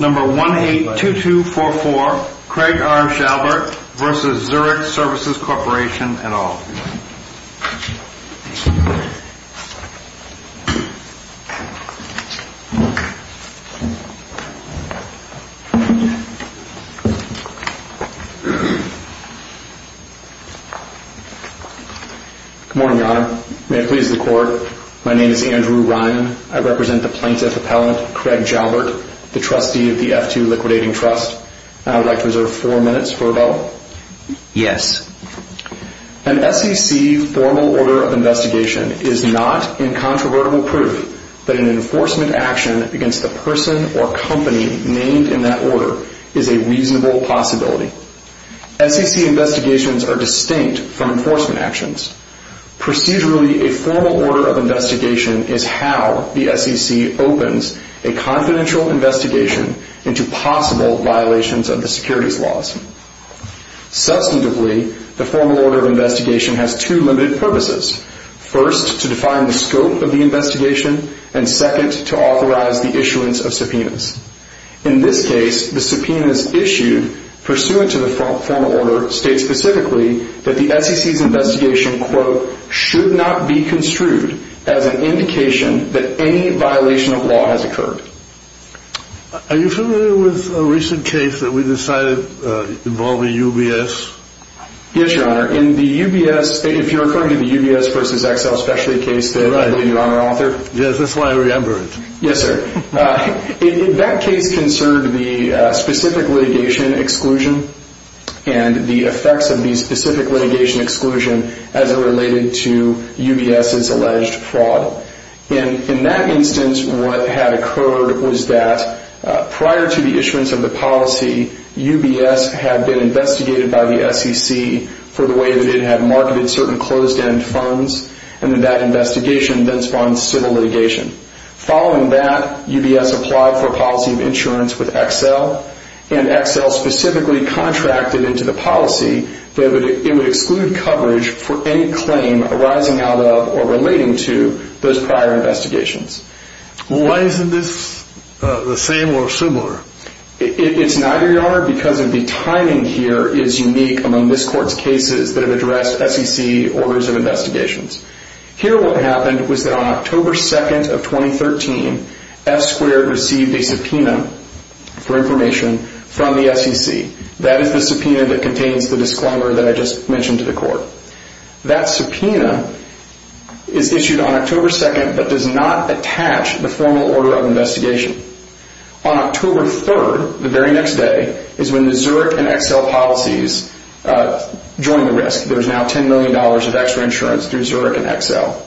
Number 182244 Craig R. Jalbert v. Zurich Services Corporation et al. Good morning, Your Honor. May it please the Court, my name is Andrew Ryan. I represent the plaintiff appellant, Craig Jalbert, the trustee of the F2 Liquidating Trust. I would like to reserve four minutes for rebuttal. Yes. An SEC formal order of investigation is not incontrovertible proof that an enforcement action against the person or company named in that order is a reasonable possibility. SEC investigations are distinct from enforcement actions. Procedurally, a formal order of investigation is how the SEC opens a confidential investigation into possible violations of the securities laws. Substantively, the formal order of investigation has two limited purposes. First, to define the scope of the investigation, and second, to authorize the issuance of subpoenas. In this case, the subpoenas issued pursuant to the formal order state specifically that the SEC's investigation, quote, should not be construed as an indication that any violation of law has occurred. Are you familiar with a recent case that we decided involved a UBS? Yes, Your Honor. In the UBS, if you're referring to the UBS v. Excel specialty case that I believe, Your Honor. Yes, that's why I remember it. Yes, sir. In that case concerned, the specific litigation exclusion and the effects of the specific litigation exclusion as it related to UBS's alleged fraud. In that instance, what had occurred was that prior to the issuance of the policy, UBS had been investigated by the SEC for the way that it had marketed certain closed-end funds, and that investigation then spawned civil litigation. Following that, UBS applied for a policy of insurance with Excel, and Excel specifically contracted into the policy that it would exclude coverage for any claim arising out of or relating to those prior investigations. Why isn't this the same or similar? It's neither, Your Honor, because of the timing here is unique among this Court's cases that have addressed SEC orders of investigations. Here what happened was that on October 2nd of 2013, F-squared received a subpoena for information from the SEC. That is the subpoena that contains the disclaimer that I just mentioned to the Court. That subpoena is issued on October 2nd but does not attach the formal order of investigation. On October 3rd, the very next day, is when the Zurich and Excel policies join the risk. There's now $10 million of extra insurance through Zurich and Excel.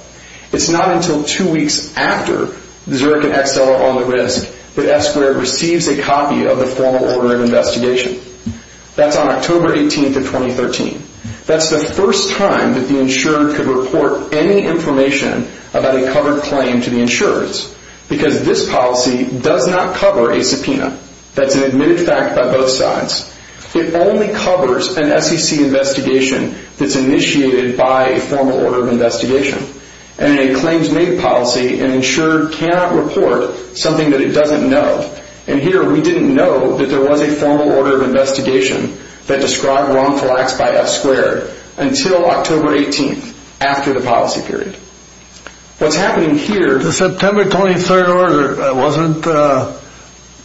It's not until two weeks after Zurich and Excel are on the risk that F-squared receives a copy of the formal order of investigation. That's on October 18th of 2013. That's the first time that the insurer could report any information about a covered claim to the insurers because this policy does not cover a subpoena. That's an admitted fact by both sides. It only covers an SEC investigation that's initiated by a formal order of investigation. And a claims-made policy, an insurer cannot report something that it doesn't know. And here we didn't know that there was a formal order of investigation that described wrongful acts by F-squared until October 18th, after the policy period. What's happening here... The September 23rd order wasn't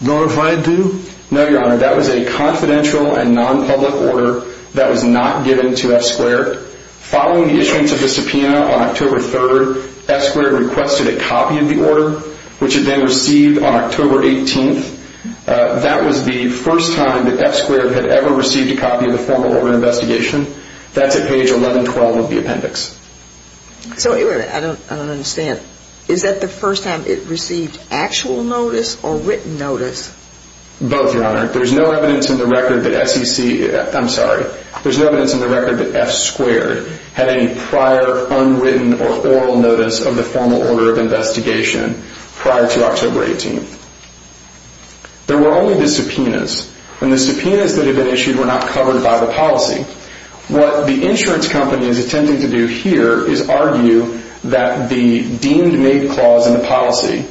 notified to? No, Your Honor. That was a confidential and non-public order that was not given to F-squared. Following the issuance of the subpoena on October 3rd, F-squared requested a copy of the order, which it then received on October 18th. That was the first time that F-squared had ever received a copy of the formal order of investigation. That's at page 1112 of the appendix. I don't understand. Is that the first time it received actual notice or written notice? Both, Your Honor. There's no evidence in the record that SEC... I'm sorry. There's no evidence in the record that F-squared had any prior unwritten or oral notice of the formal order of investigation prior to October 18th. There were only the subpoenas. And the subpoenas that had been issued were not covered by the policy. What the insurance company is attempting to do here is argue that the deemed-made clause in the policy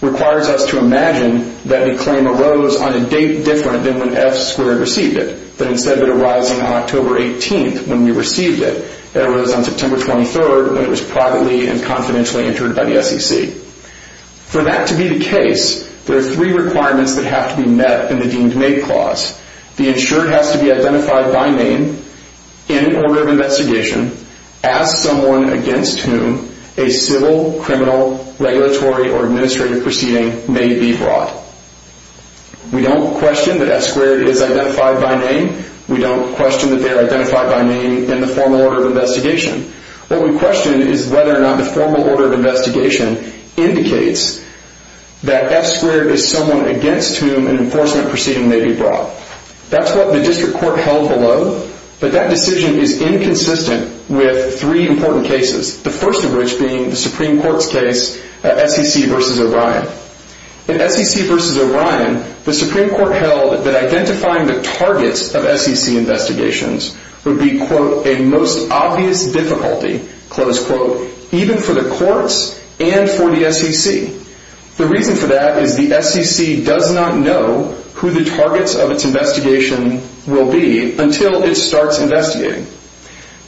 requires us to imagine that the claim arose on a date different than when F-squared received it, that instead of it arising on October 18th when we received it, it arose on September 23rd when it was privately and confidentially entered by the SEC. For that to be the case, there are three requirements that have to be met in the deemed-made clause. The insured has to be identified by name in an order of investigation as someone against whom a civil, criminal, regulatory, or administrative proceeding may be brought. We don't question that F-squared is identified by name. We don't question that they are identified by name in the formal order of investigation. What we question is whether or not the formal order of investigation indicates that F-squared is someone against whom an enforcement proceeding may be brought. That's what the district court held below, but that decision is inconsistent with three important cases, the first of which being the Supreme Court's case, SEC v. O'Brien. In SEC v. O'Brien, the Supreme Court held that identifying the targets of SEC investigations would be a most obvious difficulty even for the courts and for the SEC. The reason for that is the SEC does not know who the targets of its investigation will be until it starts investigating.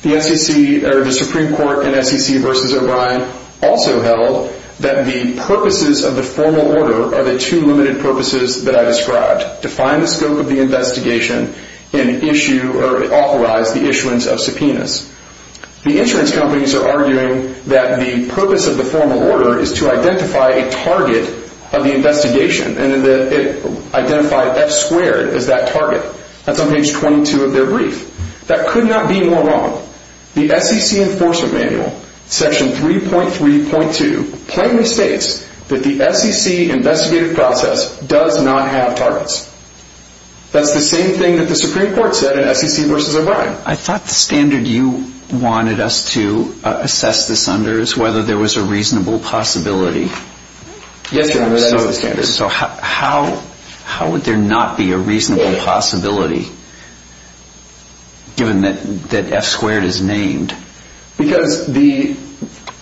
The Supreme Court in SEC v. O'Brien also held that the purposes of the formal order are the two limited purposes that I described, define the scope of the investigation, and authorize the issuance of subpoenas. The insurance companies are arguing that the purpose of the formal order is to identify a target of the investigation and identify F-squared as that target. That's on page 22 of their brief. That could not be more wrong. The SEC enforcement manual, section 3.3.2, plainly states that the SEC investigative process does not have targets. That's the same thing that the Supreme Court said in SEC v. O'Brien. I thought the standard you wanted us to assess this under is whether there was a reasonable possibility. Yes, Your Honor, that is the standard. How would there not be a reasonable possibility, given that F-squared is named? Because the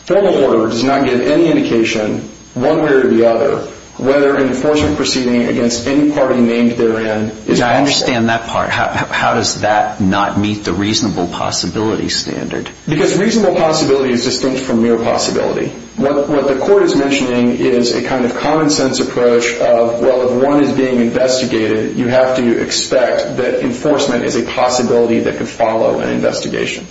formal order does not give any indication, one way or the other, whether an enforcement proceeding against any party named therein is possible. I understand that part. How does that not meet the reasonable possibility standard? Because reasonable possibility is distinct from mere possibility. What the court is mentioning is a kind of common-sense approach of, well, if one is being investigated, you have to expect that enforcement is a possibility that could follow an investigation.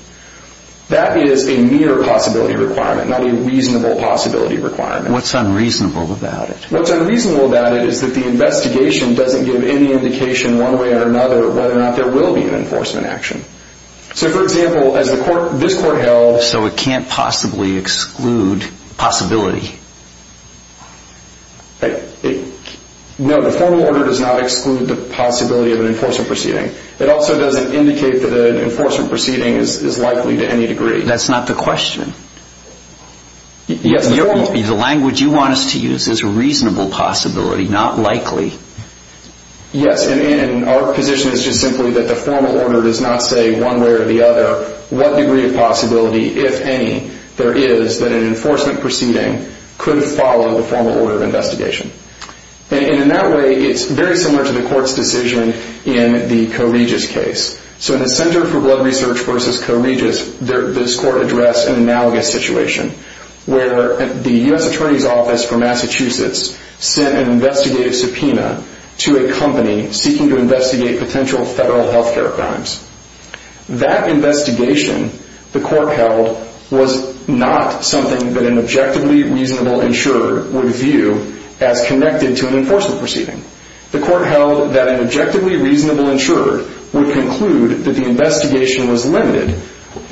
That is a mere possibility requirement, not a reasonable possibility requirement. What's unreasonable about it? What's unreasonable about it is that the investigation doesn't give any indication, one way or another, whether or not there will be an enforcement action. So, for example, as this court held... So it can't possibly exclude possibility. No, the formal order does not exclude the possibility of an enforcement proceeding. It also doesn't indicate that an enforcement proceeding is likely to any degree. That's not the question. The language you want us to use is reasonable possibility, not likely. Yes, and our position is just simply that the formal order does not say one way or the other what degree of possibility, if any, there is that an enforcement proceeding could follow the formal order of investigation. And in that way, it's very similar to the court's decision in the Corregis case. So in the Center for Blood Research v. Corregis, this court addressed an analogous situation where the U.S. Attorney's Office for Massachusetts sent an investigative subpoena to a company seeking to investigate potential federal health care crimes. That investigation the court held was not something that an objectively reasonable insurer would view as connected to an enforcement proceeding. The court held that an objectively reasonable insurer would conclude that the investigation was limited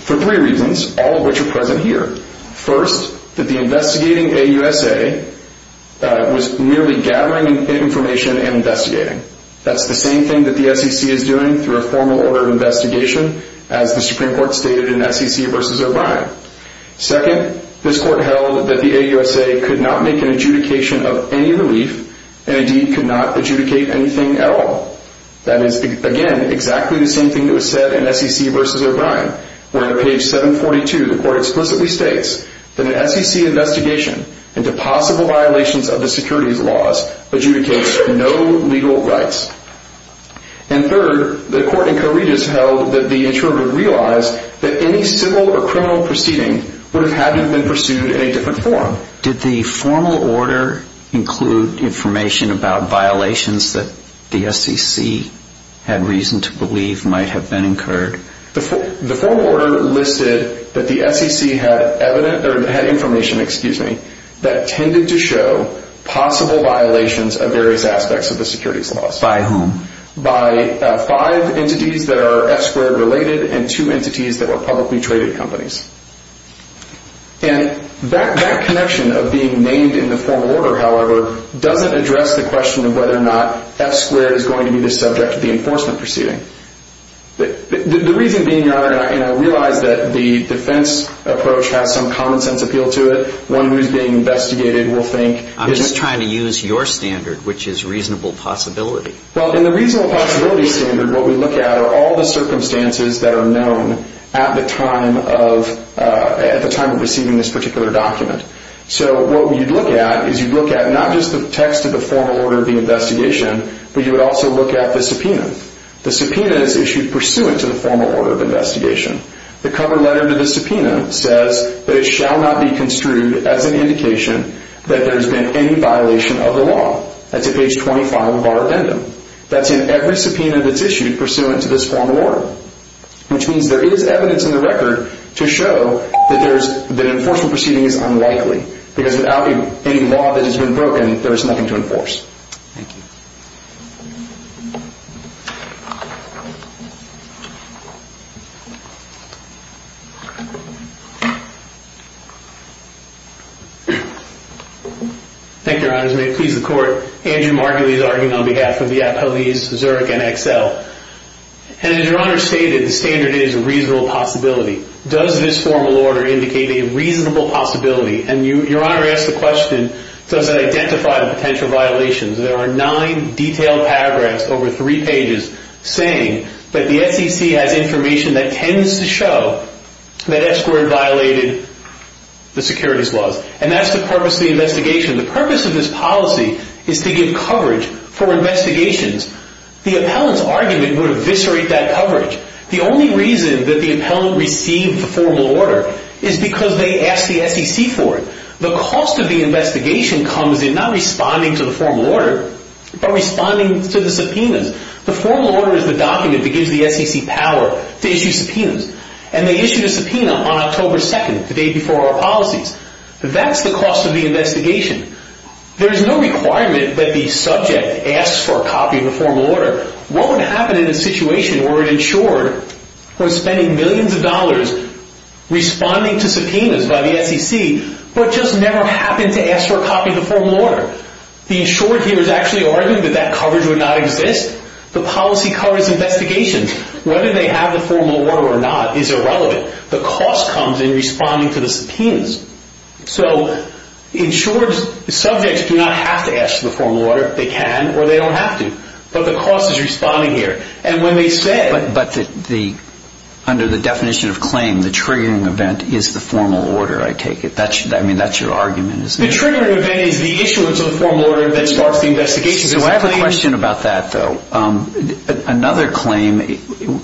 for three reasons, all of which are present here. First, that the investigating AUSA was merely gathering information and investigating. That's the same thing that the SEC is doing through a formal order of investigation as the Supreme Court stated in SEC v. O'Brien. Second, this court held that the AUSA could not make an adjudication of any relief and indeed could not adjudicate anything at all. That is, again, exactly the same thing that was said in SEC v. O'Brien, where on page 742 the court explicitly states that an SEC investigation into possible violations of the securities laws adjudicates no legal rights. And third, the court in Corregis held that the insurer would realize that any civil or criminal proceeding would have had to have been pursued in a different form. Did the formal order include information about violations that the SEC had reason to believe might have been incurred? The formal order listed that the SEC had information that tended to show possible violations of various aspects of the securities laws. By whom? By five entities that are F-squared related and two entities that were publicly traded companies. And that connection of being named in the formal order, however, doesn't address the question of whether or not F-squared is going to be the subject of the enforcement proceeding. The reason being, Your Honor, and I realize that the defense approach has some common sense appeal to it. One who's being investigated will think... I'm just trying to use your standard, which is reasonable possibility. Well, in the reasonable possibility standard, what we look at are all the circumstances that are known at the time of receiving this particular document. So what you'd look at is you'd look at not just the text of the formal order of the investigation, but you would also look at the subpoena. The subpoena is issued pursuant to the formal order of investigation. The cover letter to the subpoena says that it shall not be construed as an indication that there has been any violation of the law. That's at page 25 of our addendum. That's in every subpoena that's issued pursuant to this formal order, which means there is evidence in the record to show that enforcement proceeding is unlikely, because without any law that has been broken, there is nothing to enforce. Thank you. Thank you, Your Honors. May it please the Court, Andrew Margulies arguing on behalf of the appellees, Zurich, and Excel. And as Your Honor stated, the standard is a reasonable possibility. Does this formal order indicate a reasonable possibility? And Your Honor asked the question, does it identify the potential violations? There are nine detailed paragraphs over three pages saying that the SEC has information that tends to show that Escort violated the securities laws. And that's the purpose of the investigation. The purpose of this policy is to give coverage for investigations. The appellant's argument would eviscerate that coverage. The only reason that the appellant received the formal order is because they asked the SEC for it. The cost of the investigation comes in not responding to the formal order, but responding to the subpoenas. The formal order is the document that gives the SEC power to issue subpoenas. And they issued a subpoena on October 2nd, the day before our policies. That's the cost of the investigation. There is no requirement that the subject asks for a copy of the formal order. What would happen in a situation where an insured was spending millions of dollars responding to subpoenas by the SEC, but just never happened to ask for a copy of the formal order? The insured here is actually arguing that that coverage would not exist. The policy covers investigations. Whether they have the formal order or not is irrelevant. The cost comes in responding to the subpoenas. Insured subjects do not have to ask for the formal order. They can or they don't have to. But the cost is responding here. But under the definition of claim, the triggering event is the formal order, I take it. That's your argument. The triggering event is the issuance of the formal order that starts the investigation. I have a question about that, though. Another thing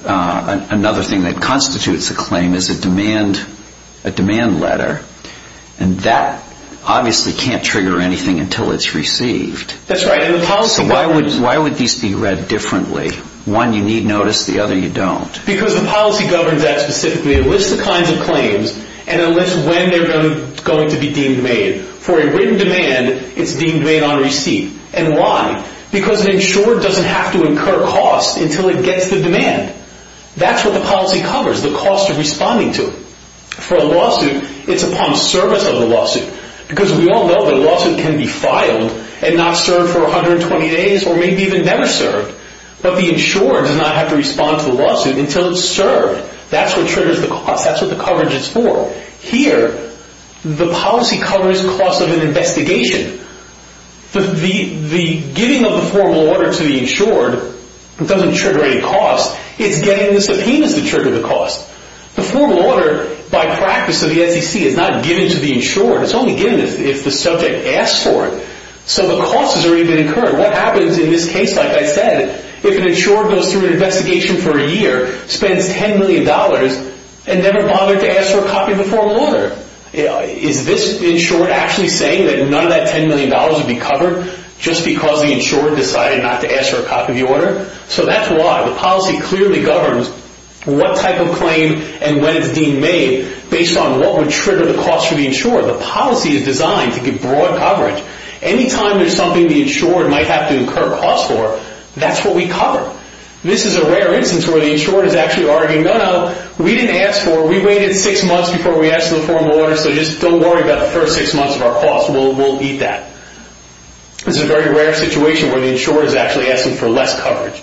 that constitutes a claim is a demand letter. That obviously can't trigger anything until it's received. That's right. Why would these be read differently? One, you need notice. The other, you don't. Because the policy governs that specifically. It lists the kinds of claims and it lists when they're going to be deemed made. For a written demand, it's deemed made on receipt. And why? Because an insurer doesn't have to incur cost until it gets the demand. That's what the policy covers, the cost of responding to it. For a lawsuit, it's upon service of the lawsuit. Because we all know that a lawsuit can be filed and not served for 120 days or maybe even never served. But the insurer does not have to respond to the lawsuit until it's served. That's what triggers the cost. That's what the coverage is for. Here, the policy covers cost of an investigation. The giving of the formal order to the insured doesn't trigger any cost. It's getting the subpoenas that trigger the cost. The formal order, by practice of the SEC, is not given to the insured. It's only given if the subject asks for it. So the cost has already been incurred. What happens in this case, like I said, if an insured goes through an investigation for a year, spends $10 million, and never bothered to ask for a copy of the formal order? Is this insured actually saying that none of that $10 million would be covered just because the insured decided not to ask for a copy of the order? So that's why the policy clearly governs what type of claim and when it's deemed made based on what would trigger the cost for the insured. The policy is designed to give broad coverage. Anytime there's something the insured might have to incur cost for, that's what we cover. This is a rare instance where the insured is actually arguing, No, no, we didn't ask for it. We waited six months before we asked for the formal order, so just don't worry about the first six months of our cost. We'll eat that. This is a very rare situation where the insured is actually asking for less coverage.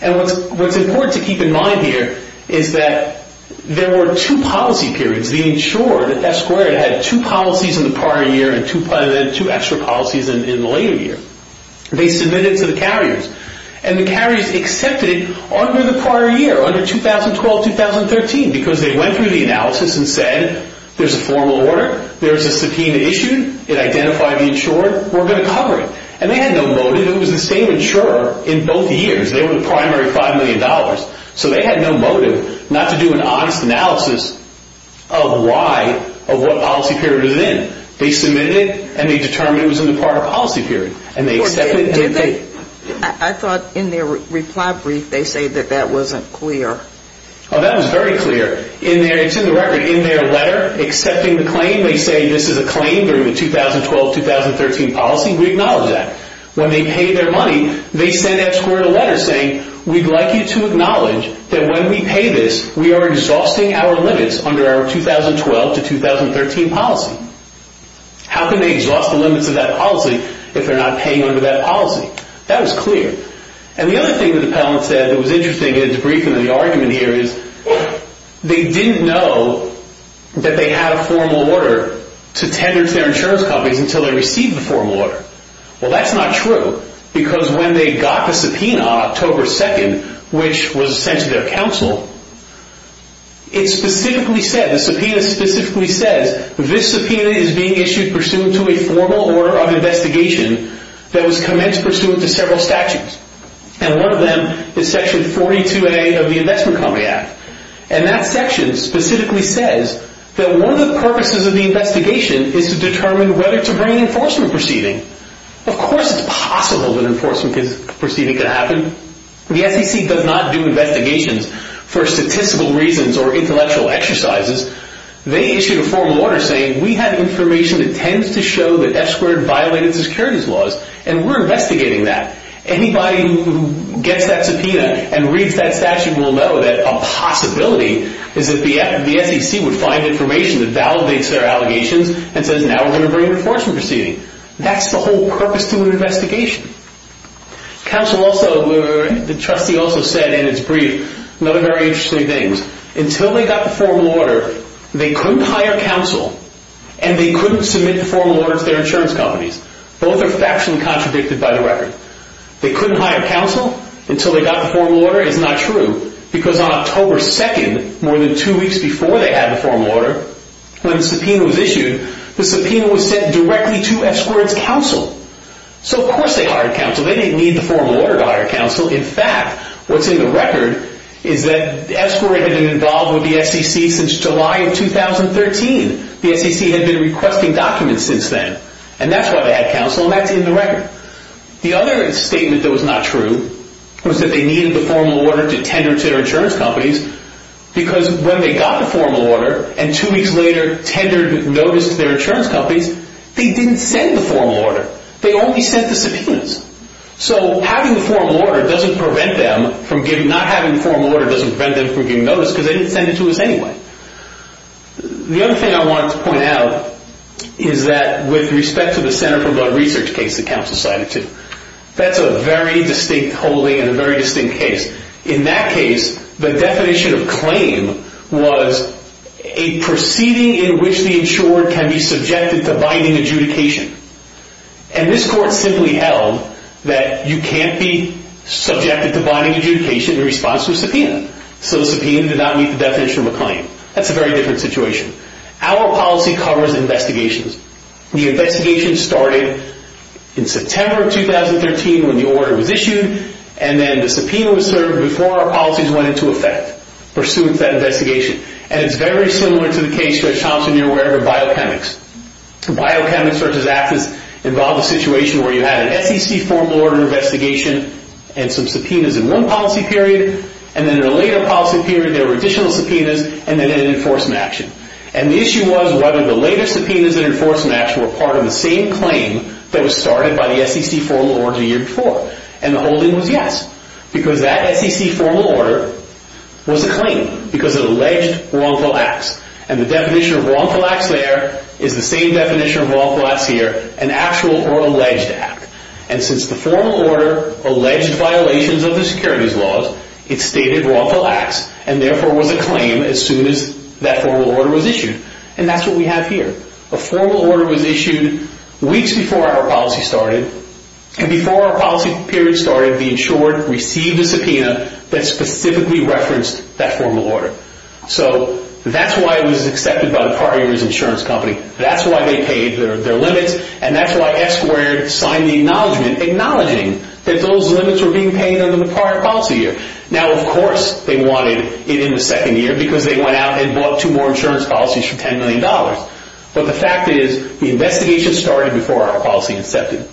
And what's important to keep in mind here is that there were two policy periods. The insured, F-squared, had two policies in the prior year and two extra policies in the later year. They submitted to the carriers, and the carriers accepted it under the prior year, under 2012-2013, because they went through the analysis and said, There's a formal order. There's a subpoena issued. It identified the insured. We're going to cover it. And they had no motive. It was the same insurer in both years. They were the primary $5 million. So they had no motive not to do an honest analysis of why, of what policy period it was in. They submitted it, and they determined it was in the prior policy period, and they accepted it. I thought in their reply brief they say that that wasn't clear. Oh, that was very clear. It's in the record. In their letter accepting the claim, they say this is a claim during the 2012-2013 policy. We acknowledge that. When they paid their money, they sent F-squared a letter saying, We'd like you to acknowledge that when we pay this, we are exhausting our limits under our 2012-2013 policy. How can they exhaust the limits of that policy if they're not paying under that policy? That was clear. And the other thing that the appellant said that was interesting in debriefing the argument here is they didn't know that they had a formal order to tender to their insurance companies until they received the formal order. Well, that's not true, because when they got the subpoena on October 2nd, which was sent to their counsel, it specifically said, the subpoena specifically says, This subpoena is being issued pursuant to a formal order of investigation that was commenced pursuant to several statutes. And one of them is section 42A of the Investment Company Act. And that section specifically says that one of the purposes of the investigation is to determine whether to bring an enforcement proceeding. Of course it's possible that an enforcement proceeding could happen. The SEC does not do investigations for statistical reasons or intellectual exercises. They issued a formal order saying, We have information that tends to show that F-squared violated securities laws, and we're investigating that. Anybody who gets that subpoena and reads that statute will know that a possibility is that the SEC would find information that validates their allegations and says, Now we're going to bring an enforcement proceeding. That's the whole purpose to an investigation. The trustee also said in his brief another very interesting thing. Until they got the formal order, they couldn't hire counsel, and they couldn't submit the formal order to their insurance companies. Both are factually contradicted by the record. They couldn't hire counsel until they got the formal order is not true, because on October 2nd, more than two weeks before they had the formal order, when the subpoena was issued, the subpoena was sent directly to F-squared's counsel. So of course they hired counsel. They didn't need the formal order to hire counsel. In fact, what's in the record is that F-squared had been involved with the SEC since July of 2013. The SEC had been requesting documents since then, and that's why they had counsel, and that's in the record. The other statement that was not true was that they needed the formal order to tender to their insurance companies, because when they got the formal order and two weeks later tendered notice to their insurance companies, they didn't send the formal order. They only sent the subpoenas. So having the formal order doesn't prevent them from giving notice, because they didn't send it to us anyway. The other thing I wanted to point out is that with respect to the Center for Blood Research case that counsel cited, too, that's a very distinct holding and a very distinct case. In that case, the definition of claim was a proceeding in which the insured can be subjected to binding adjudication. And this court simply held that you can't be subjected to binding adjudication in response to a subpoena. So the subpoena did not meet the definition of a claim. That's a very different situation. Our policy covers investigations. The investigation started in September of 2013 when the order was issued, and then the subpoena was served before our policies went into effect pursuant to that investigation. And it's very similar to the case, as Thompson, you're aware, of biochemics. Biochemics versus AFIS involved a situation where you had an SEC formal order investigation and some subpoenas in one policy period, and then in a later policy period there were additional subpoenas and then an enforcement action. And the issue was whether the later subpoenas and enforcement actions were part of the same claim that was started by the SEC formal order the year before. And the holding was yes, because that SEC formal order was a claim because it alleged wrongful acts. And the definition of wrongful acts there is the same definition of wrongful acts here, an actual or alleged act. And since the formal order alleged violations of the securities laws, it stated wrongful acts and therefore was a claim as soon as that formal order was issued. And that's what we have here. A formal order was issued weeks before our policy started, and before our policy period started, the insured received a subpoena that specifically referenced that formal order. So that's why it was accepted by the prior year's insurance company. That's why they paid their limits, and that's why Esquire signed the acknowledgement acknowledging that those limits were being paid under the prior policy year. Now, of course, they wanted it in the second year because they went out and bought two more insurance policies for $10 million. But the fact is the investigation started before our policy incepted.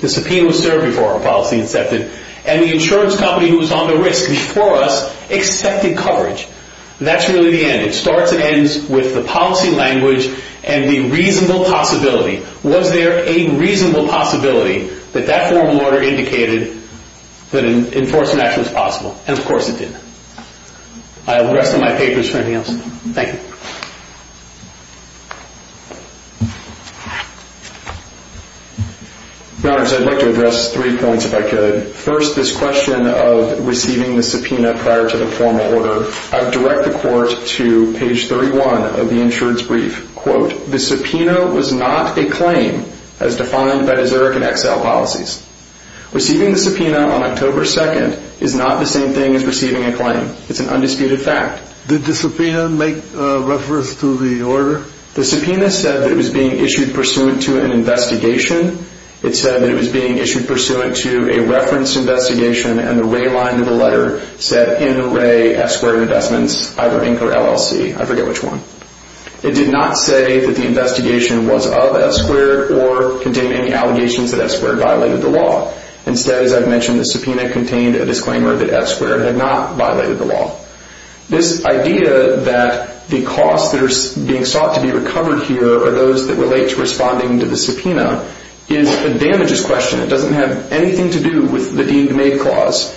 The subpoena was served before our policy incepted, and the insurance company who was on the risk before us accepted coverage. That's really the end. It starts and ends with the policy language and the reasonable possibility. Was there a reasonable possibility that that formal order indicated that an enforcement action was possible? And, of course, it did. I have the rest of my papers, if anything else. Thank you. Your Honor, I'd like to address three points, if I could. First, this question of receiving the subpoena prior to the formal order. I would direct the Court to page 31 of the insurance brief. Quote, the subpoena was not a claim as defined by the Zurich and Excel policies. Receiving the subpoena on October 2nd is not the same thing as receiving a claim. It's an undisputed fact. Did the subpoena make reference to the order? The subpoena said that it was being issued pursuant to an investigation. It said that it was being issued pursuant to a reference investigation, and the red line of the letter said NRA F-squared Investments, either Inc. or LLC. I forget which one. It did not say that the investigation was of F-squared or contained any allegations that F-squared violated the law. Instead, as I've mentioned, the subpoena contained a disclaimer that F-squared had not violated the law. This idea that the costs that are being sought to be recovered here are those that relate to responding to the subpoena is a damageous question. It doesn't have anything to do with the deemed-made clause.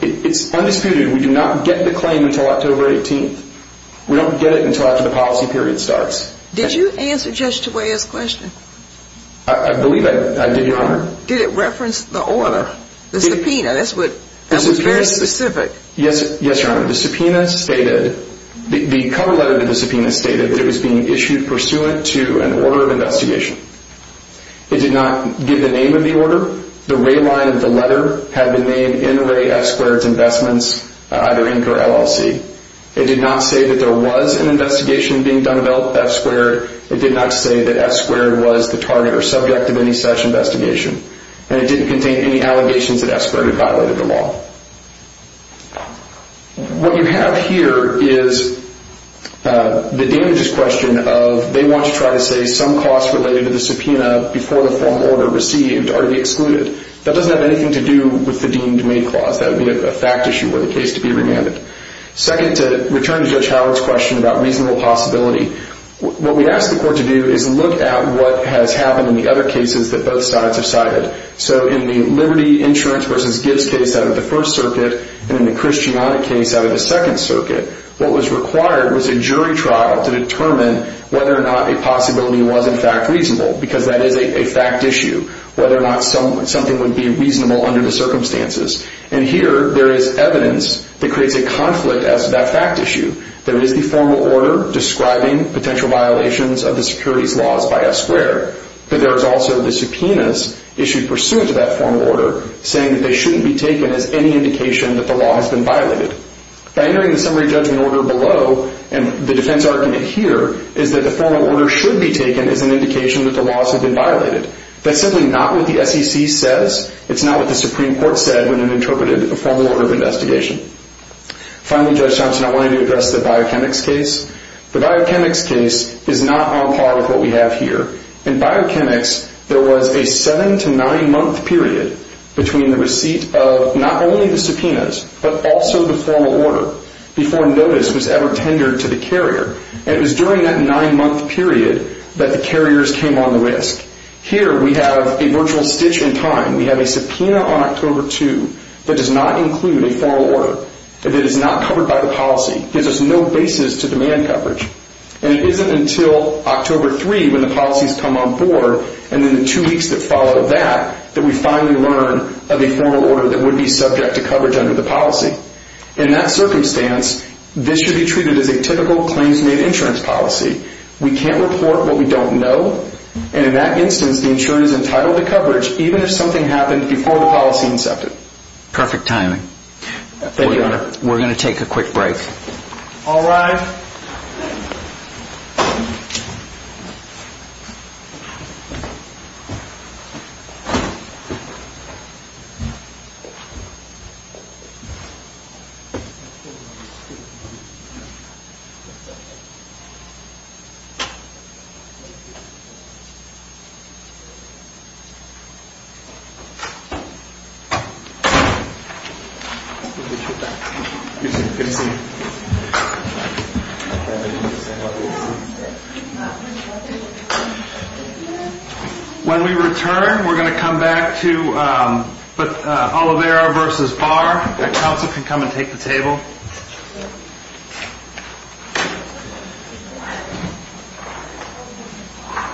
It's undisputed. We do not get the claim until October 18th. We don't get it until after the policy period starts. Did you answer Judge DeWay's question? I believe I did, Your Honor. Did it reference the order, the subpoena? That was very specific. Yes, Your Honor. The subpoena stated, the cover letter of the subpoena stated that it was being issued pursuant to an order of investigation. It did not give the name of the order. The red line of the letter had the name NRA F-squared Investments, either Inc. or LLC. It did not say that there was an investigation being done about F-squared. It did not say that F-squared was the target or subject of any such investigation. And it didn't contain any allegations that F-squared had violated the law. What you have here is the damageous question of, they want to try to say some costs related to the subpoena before the formal order received are to be excluded. That doesn't have anything to do with the deemed-made clause. That would be a fact issue were the case to be remanded. Second, to return to Judge Howard's question about reasonable possibility, what we ask the court to do is look at what has happened in the other cases that both sides have cited. So in the Liberty Insurance v. Gibbs case out of the First Circuit and in the Christianic case out of the Second Circuit, what was required was a jury trial to determine whether or not a possibility was in fact reasonable because that is a fact issue, whether or not something would be reasonable under the circumstances. And here there is evidence that creates a conflict as to that fact issue. There is the formal order describing potential violations of the securities laws by F-squared. But there is also the subpoenas issued pursuant to that formal order saying that they shouldn't be taken as any indication that the law has been violated. By entering the summary judgment order below and the defense argument here is that the formal order should be taken as an indication that the laws have been violated. That's simply not what the SEC says. It's not what the Supreme Court said when it interpreted a formal order of investigation. Finally, Judge Thompson, I wanted to address the Biochemics case. The Biochemics case is not on par with what we have here. In Biochemics, there was a seven- to nine-month period between the receipt of not only the subpoenas but also the formal order before notice was ever tendered to the carrier. And it was during that nine-month period that the carriers came on the risk. Here we have a virtual stitch in time. We have a subpoena on October 2 that does not include a formal order. It is not covered by the policy. It gives us no basis to demand coverage. And it isn't until October 3 when the policies come on board and then the two weeks that follow that that we finally learn of a formal order that would be subject to coverage under the policy. In that circumstance, this should be treated as a typical claims-made insurance policy. We can't report what we don't know. And in that instance, the insurance is entitled to coverage even if something happened before the policy incepted. Perfect timing. We're going to take a quick break. All rise. We'll be right back. Good to see you. When we return, we're going to come back to Olivera versus Barr.